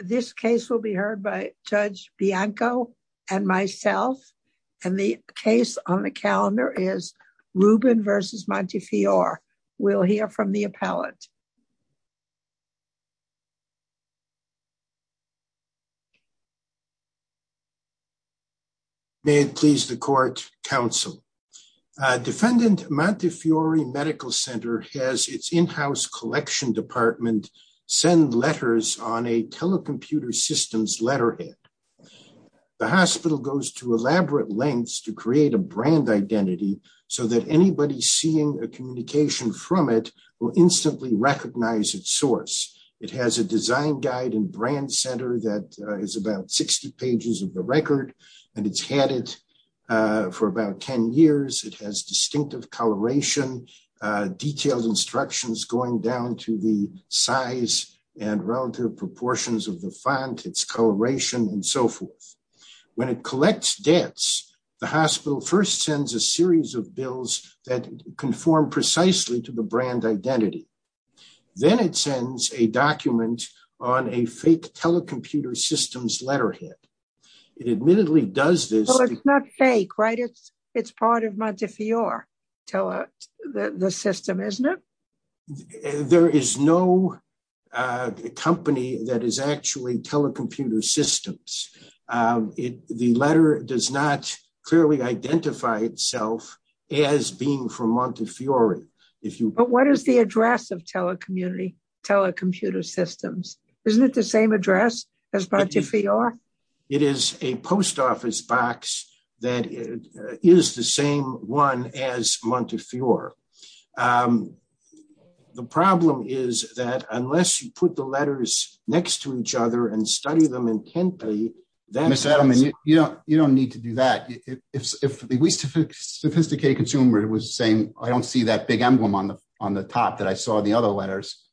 This case will be heard by Judge Bianco and myself and the case on the calendar is Rubin v. Montefiore. We'll hear from the appellant. May it please the court, counsel. Defendant Montefiore Medical Center has its in-house collection department send letters on a telecomputer systems letterhead. The hospital goes to elaborate lengths to create a brand identity so that anybody seeing a communication from it will instantly recognize its source. It has a design guide and brand center that is about 60 pages of the record and it's had it for about 10 years. It has distinctive coloration, detailed instructions going down to the size and relative proportions of the font, its coloration and so forth. When it collects debts, the hospital first sends a series of bills that conform precisely to the brand identity. Then it sends a document on a fake telecomputer systems letterhead. It admittedly does this. Well, it's not fake, right? It's part of Montefiore. The system, isn't it? There is no company that is actually telecomputer systems. The letter does not clearly identify itself as being from Montefiore. But what is the address of telecommunity, telecomputer systems? Isn't it the same address as Montefiore? It is a post office box that is the same one as Montefiore. The problem is that unless you put the letters next to each other and study them intently- Mr. Adelman, you don't need to do that. If the sophisticated consumer was saying, I don't see that big emblem on the top that I saw in the other letters,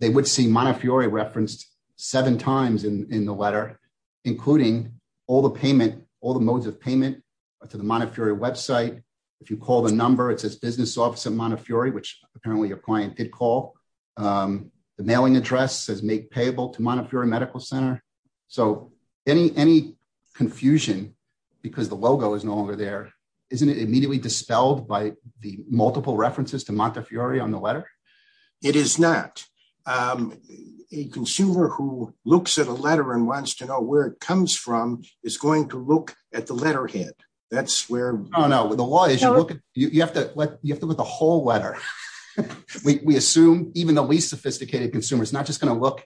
they would see Montefiore referenced seven times in the letter, including all the payment, all the modes of payment to the Montefiore website. If you call the number, it says business office of Montefiore, which apparently your client did call. The mailing address says make payable to Montefiore Medical Center. So any confusion because the logo is no longer there, isn't it immediately dispelled by the multiple references to Montefiore on the letter? It is not. A consumer who looks at a letter and wants to know where it comes from is going to look at the letterhead. That's where- Oh no, the law is you have to look at the whole letter. We assume even the least sophisticated consumer is not just going to look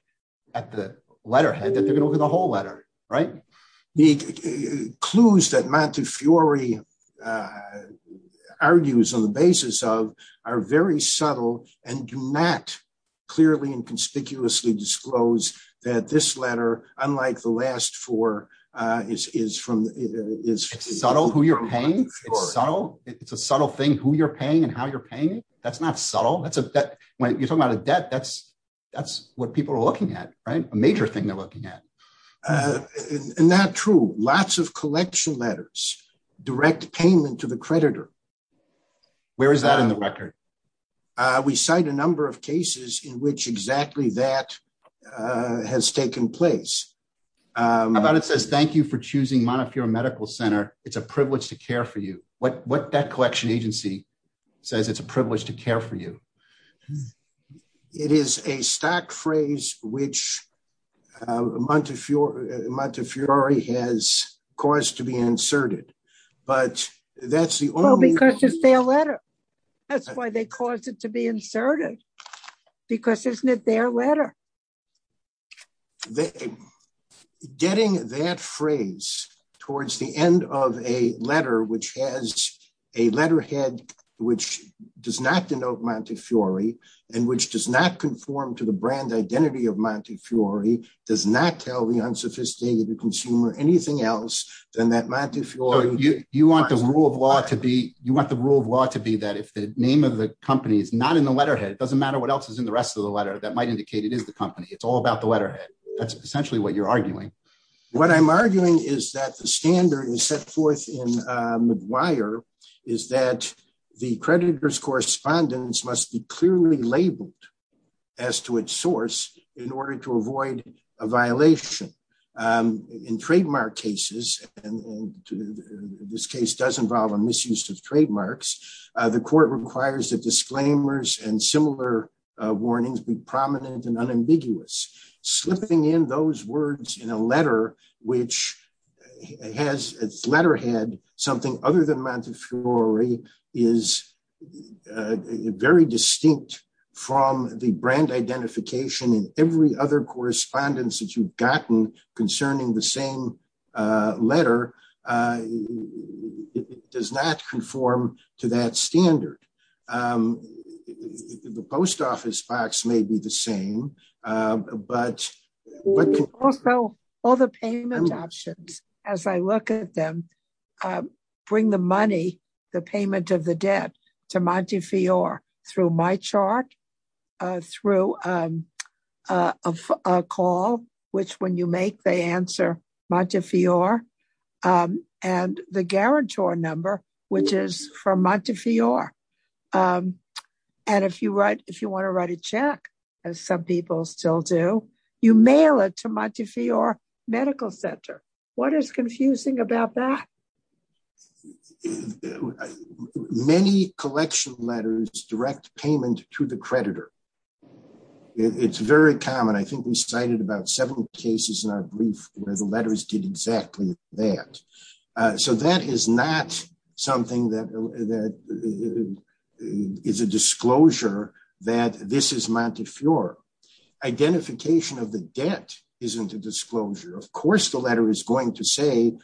at the letterhead, that they're going to look at the whole letter, right? The clues that Montefiore argues on the basis of are very subtle and do not clearly and conspicuously disclose that this letter, unlike the last four, is from- It's subtle who you're paying. It's a subtle thing who you're paying and how you're paying it. That's not subtle. When you're talking about a debt, that's what people are looking at, right? A major thing they're looking at. Not true. Lots of collection letters, direct payment to the creditor. Where is that in the record? We cite a number of cases in which exactly that has taken place. How about it says, thank you for choosing Montefiore Medical Center. It's a privilege to care for you. What debt collection agency says it's a privilege to care for you? It is a stock phrase which Montefiore has caused to be inserted, but that's the only- Because it's their letter. That's why they caused it to be inserted, because isn't it their letter? Getting that phrase towards the end of a letter, which has a letterhead, which does not denote Montefiore, and which does not conform to the brand identity of Montefiore, does not tell the unsophisticated consumer anything else than that Montefiore- You want the rule of law to be that if the name of the company is not in the letterhead, it doesn't matter what else is in the rest of the letter. That might indicate it is the company. It's all about the letterhead. That's essentially what you're arguing. What I'm arguing is that the standard is set forth in the creditors correspondence must be clearly labeled as to its source in order to avoid a violation. In trademark cases, and this case does involve a misuse of trademarks, the court requires that disclaimers and similar warnings be prominent and unambiguous. Slipping in those words in a letter, which has its letterhead, something other than Montefiore, is very distinct from the brand identification in every other correspondence that you've gotten concerning the same letter. It does not conform to that standard. The post office box may be the same, but- Also, all the payment options, as I look at them, bring the money, the payment of the debt to Montefiore through MyChart, through a call, which when you make, they answer Montefiore, and the guarantor number, which is from Montefiore. If you want to write a check, as some people still do, you mail it to Montefiore Medical Center. What is confusing about that? Many collection letters direct payment to the creditor. It's very common. I think we cited about seven cases in our brief where the letters did exactly that. That is not something that is a disclosure that this is Montefiore. Identification of the debt isn't a disclosure. Of course, the letter is going to say,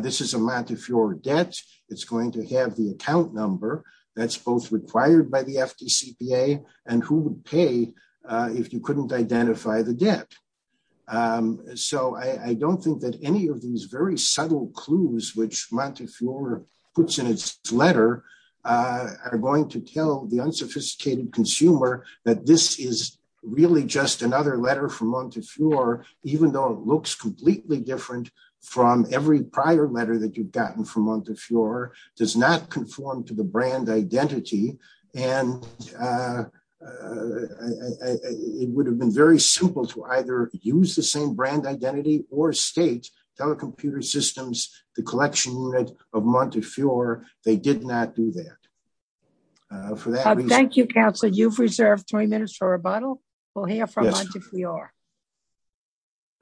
this is a Montefiore debt. It's going to have the account number that's both required by the FDCPA and who would pay if you couldn't identify the letter, are going to tell the unsophisticated consumer that this is really just another letter from Montefiore, even though it looks completely different from every prior letter that you've gotten from Montefiore, does not conform to the brand identity. It would have been very simple to either use the same brand identity or state, Telecomputer Systems, the that. Thank you, counsel. You've reserved three minutes for rebuttal. We'll hear from Montefiore.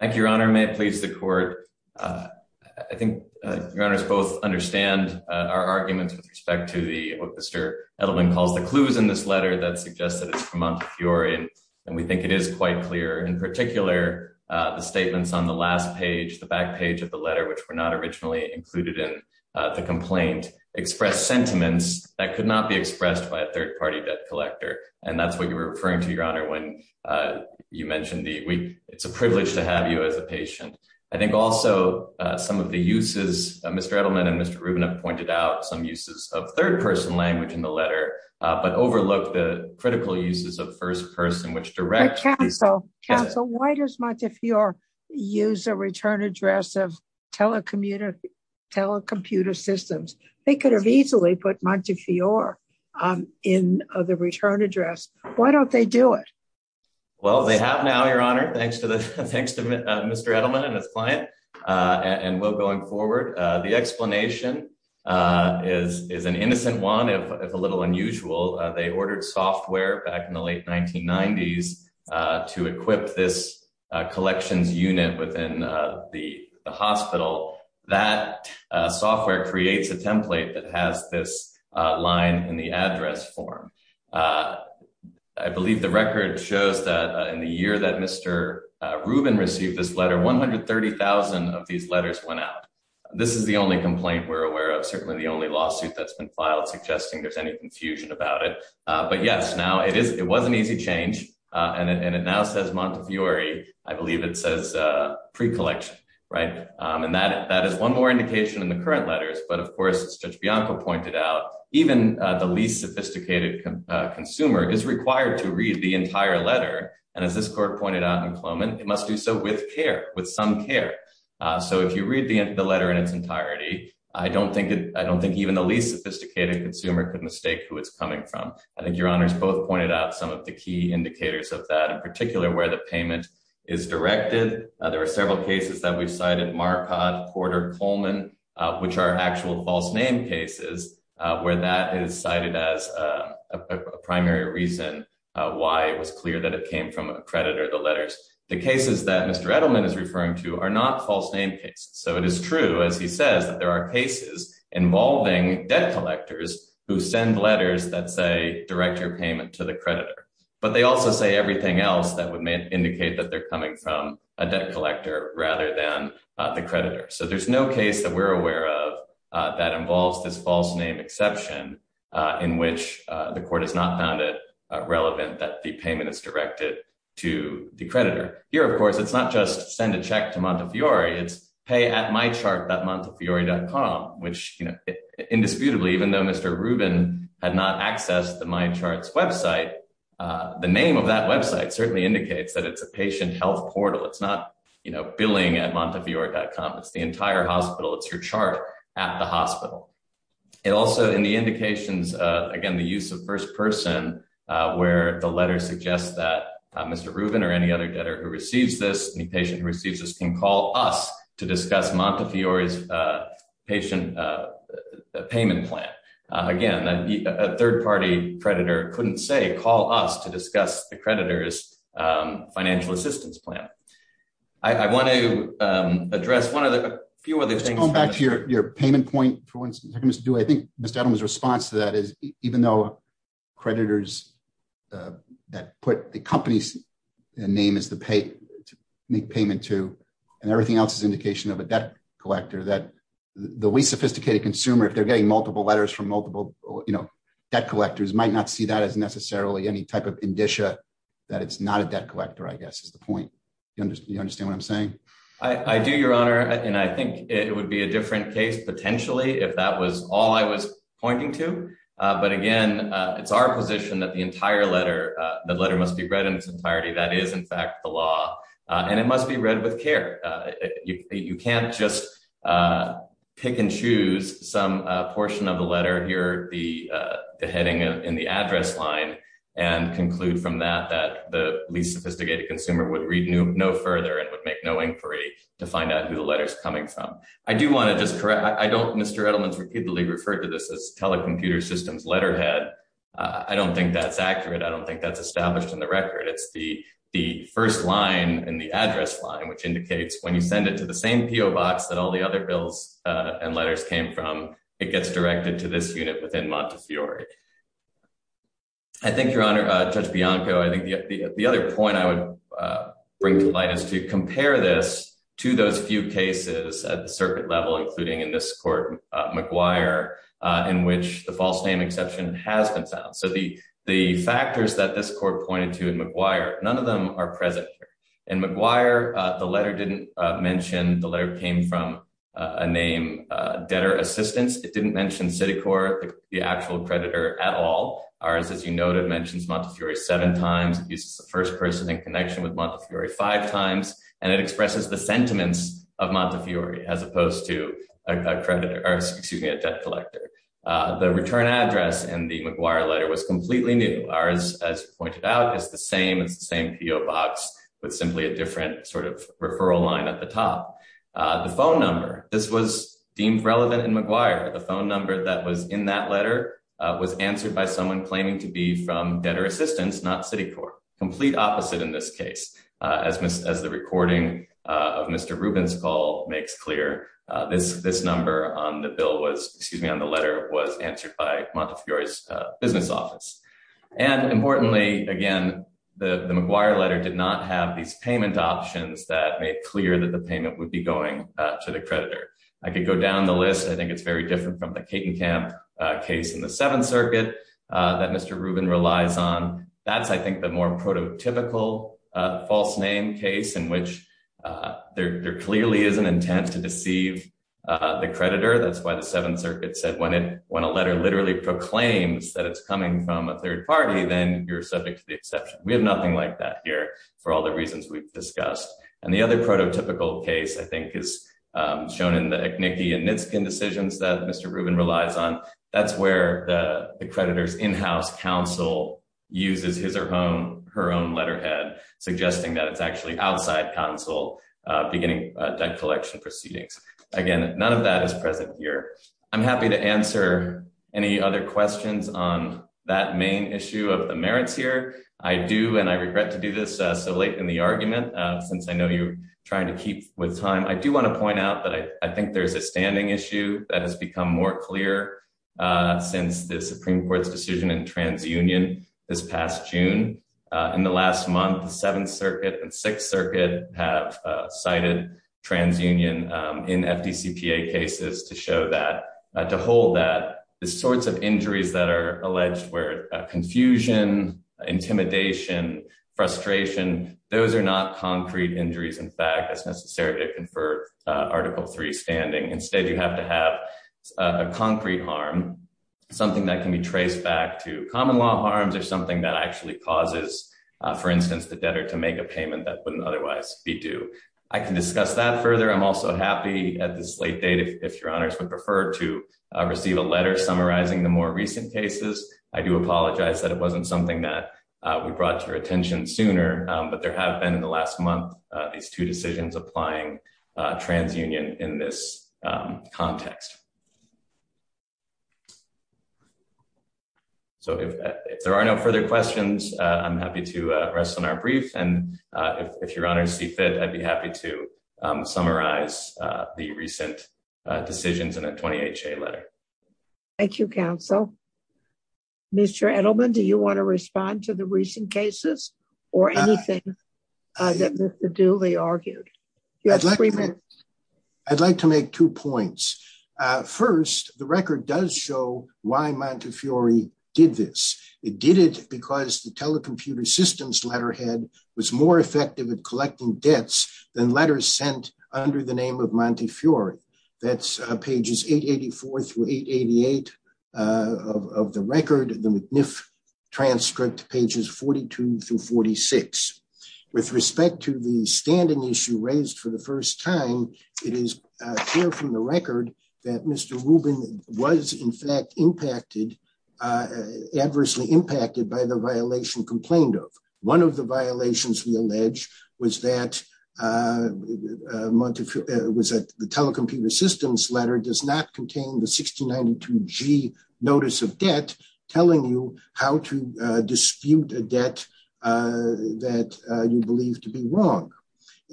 Thank you, your honor. May it please the court. I think your honors both understand our arguments with respect to the, what Mr. Edelman calls the clues in this letter that suggests that it's from Montefiore. And we think it is quite clear in particular the statements on the last page, the back page of the letter, which were not originally included in the complaint express sentiments that could not be expressed by a third party debt collector. And that's what you were referring to your honor when you mentioned the, it's a privilege to have you as a patient. I think also some of the uses, Mr. Edelman and Mr. Rubin have pointed out some uses of third person language in the letter, but overlook the critical uses of first person, which directs. Counsel, why does Montefiore use a return address of Telecomputer Systems? They could have easily put Montefiore in the return address. Why don't they do it? Well, they have now, your honor. Thanks to Mr. Edelman and his client and will going forward. The explanation is an innocent one. It's a little unusual. They ordered software back in the late has this line in the address form. I believe the record shows that in the year that Mr. Rubin received this letter, 130,000 of these letters went out. This is the only complaint we're aware of. Certainly the only lawsuit that's been filed suggesting there's any confusion about it. But yes, now it is, it was an easy change. And it now says Montefiore, I believe it says pre-collection. And that is one more indication in the current letters. But of course, as Judge Bianco pointed out, even the least sophisticated consumer is required to read the entire letter. And as this court pointed out in Cloman, it must do so with care, with some care. So if you read the letter in its entirety, I don't think even the least sophisticated consumer could mistake who it's coming from. I think your honors both pointed out some of the key indicators of that, in particular, where the payment is directed. There are several cases that we've cited Marquardt, Porter, Coleman, which are actual false name cases, where that is cited as a primary reason why it was clear that it came from a creditor, the letters. The cases that Mr. Edelman is referring to are not false name cases. So it is true, as he says, that there are cases involving debt collectors who send letters that say direct your payment to the creditor. But they also say everything else that would indicate that they're coming from a debt collector rather than the creditor. So there's no case that we're aware of that involves this false name exception in which the court has not found it relevant that the payment is directed to the creditor. Here, of course, it's not just send a check to Montefiore. It's pay at mychart.montefiore.com, which, you know, indisputably, even though Mr. Rubin had not accessed the mychart's website, the name of that website certainly indicates that it's a patient health portal. It's not, you know, billing at montefiore.com. It's the entire hospital. It's your chart at the hospital. It also, in the indications, again, the use of first person, where the letter suggests that Mr. Rubin or any other debtor who receives this, any patient who receives this, can call us to discuss Montefiore's patient payment plan. Again, a third-party creditor couldn't say call us to discuss the creditor's financial assistance plan. I want to address one of the few other things. Let's go back to your payment point for one second, Mr. Dewey. I think Mr. Edelman's response to that is even though creditors that put the company's name as the make payment to, and everything else is indication of a debt collector, that the least sophisticated consumer, if they're getting multiple letters from multiple, you know, debt collectors, might not see that as necessarily any type of indicia that it's not a debt collector, I guess, is the point. You understand what I'm saying? I do, Your Honor, and I think it would be a different case, potentially, if that was all I was pointing to. But again, it's our position that the entire letter, the letter must be read in its entirety. That is, in fact, the law, and it must be read with care. You can't just pick and choose some portion of the letter, here, the heading in the address line, and conclude from that that the least sophisticated consumer would read no further and would make no inquiry to find out who the letter's coming from. I do want to just correct, I don't, Mr. Edelman's repeatedly referred to this as telecomputer systems letterhead. I don't think that's accurate. I don't think that's established in the record. It's the first line in the address line, which indicates when you send it to the same PO box that all the other bills and letters came from, it gets directed to this unit within Montefiore. I think, Your Honor, Judge Bianco, I think the other point I would bring to light is to compare this to those few cases at the circuit level, including in this court, McGuire, in which the name exception has been found. The factors that this court pointed to in McGuire, none of them are present here. In McGuire, the letter didn't mention, the letter came from a name, debtor assistance. It didn't mention Citicorp, the actual creditor, at all. Ours, as you noted, mentions Montefiore seven times. It uses the first person in connection with Montefiore five times, and it expresses the sentiments of Montefiore, as opposed to a debt collector. The return address in the McGuire letter was completely new. Ours, as you pointed out, is the same. It's the same PO box, but simply a different sort of referral line at the top. The phone number, this was deemed relevant in McGuire. The phone number that was in that letter was answered by someone claiming to be from debtor assistance, not Citicorp. Complete opposite in this case. As the recording of Mr. Rubin's call makes clear, this number on the letter was answered by Montefiore's business office. Importantly, again, the McGuire letter did not have these payment options that made clear that the payment would be going to the creditor. I could go down the list. I think it's very different from the Katenkamp case in the Seventh Circuit that Mr. Rubin relies on. That's, I think, the more prototypical false name case in which there clearly is an intent to deceive the creditor. That's why the Seventh Circuit said, when a letter literally proclaims that it's coming from a third party, then you're subject to the exception. We have nothing like that here for all the reasons we've discussed. The other prototypical case, I think, is shown in the Echnicki and Nitzkin decisions that Mr. Rubin relies on. That's where the creditor's in-house counsel uses his or her own letterhead, suggesting that it's actually outside counsel beginning debt collection proceedings. Again, none of that is present here. I'm happy to answer any other questions on that main issue of the merits here. I do, and I regret to do this so late in the argument, since I know you're trying to keep with time. I do want to point out that I think there's a standing issue that has become more clear since the Supreme Court's decision in TransUnion this past June. In the last month, Seventh Circuit and Sixth Circuit have cited TransUnion in FDCPA cases to hold that the sorts of injuries that are alleged, where confusion, intimidation, frustration, those are not concrete injuries. In fact, it's necessary to confer Article III standing. Instead, you have to have a concrete harm, something that can be traced back to common law harms or something that actually causes, for instance, the debtor to make a payment that wouldn't otherwise be due. I can discuss that further. I'm also happy at this late date, if your honors would prefer to receive a letter summarizing the more recent cases. I do apologize that it wasn't something that we brought to your attention sooner, but there have been in the last month, these two decisions applying TransUnion in this context. If there are no further questions, I'm happy to rest on our brief. If your honors see fit, I'd be happy to summarize the recent decisions in a 20HA letter. Thank you, Counsel. Mr. Edelman, do you want to respond to the recent cases or anything that Mr. Dooley argued? I'd like to make two points. First, the record does show why Montefiore did this. It did it because the telecomputer systems letterhead was more effective at collecting debts than letters sent under the name of Montefiore. That's pages 884 through 888 of the record, the McNiff transcript pages 42 through 46. With respect to the standing issue raised for the first time, it is clear from the record that Mr. Rubin was in fact adversely impacted by the violation complained of. One of the violations we allege was that the telecomputer systems letter does not contain the dispute a debt that you believe to be wrong.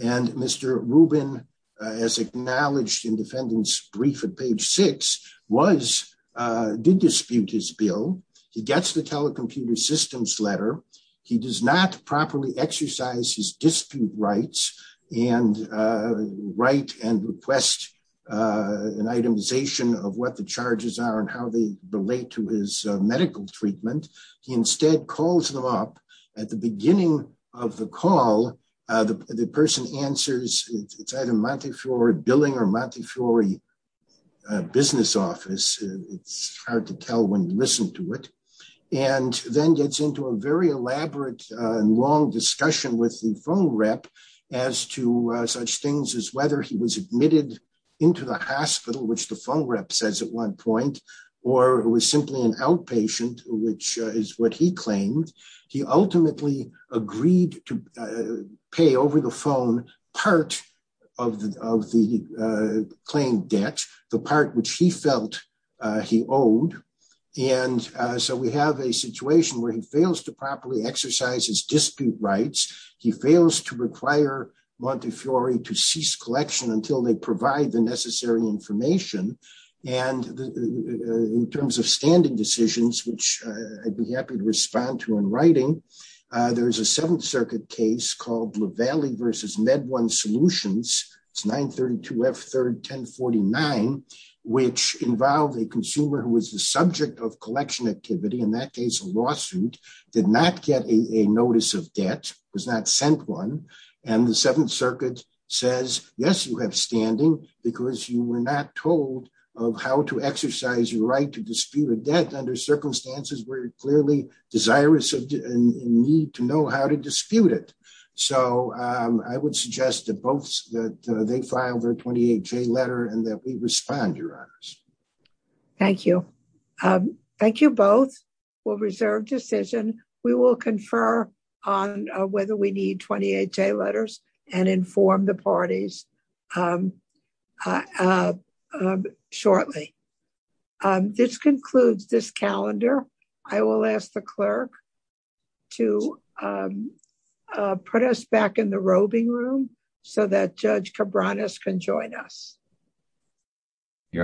Mr. Rubin, as acknowledged in defendant's brief at page 6, did dispute his bill. He gets the telecomputer systems letter. He does not properly exercise his dispute rights and request an itemization of what the charges are and how they relate to his medical treatment. He instead calls them up at the beginning of the call. The person answers. It's either Montefiore billing or Montefiore business office. It's hard to tell when you listen to it. Then gets into a very elaborate and long discussion with the phone rep as to such things as whether he was admitted into the hospital, which the phone rep says at one point, or was simply an outpatient, which is what he claimed. He ultimately agreed to pay over the phone part of the claimed debt, the part which he felt he owed. We have a situation where he fails to properly exercise his dispute rights. He fails to require Montefiore to cease collection until they provide the necessary information. In terms of standing decisions, which I'd be happy to respond to in writing, there's a Seventh Circuit case called Levallee versus MedOne Solutions. It's 932F31049, which involved a consumer who was the subject of collection activity. In that case, a lawsuit, did not get a notice of debt, was not sent one. The Seventh Circuit says, yes, you have standing because you were not told of how to exercise your right to dispute a debt under circumstances where you're clearly desirous and need to know how to dispute it. I would suggest that both, that they filed their 28-J letter and that we respond, Your Honors. Thank you. Thank you both for reserved decision. We will confer on whether we need 28-J letters and inform the parties shortly. This concludes this calendar. I will ask the clerk to put us back in the roving room so that Judge Cabranes can join us.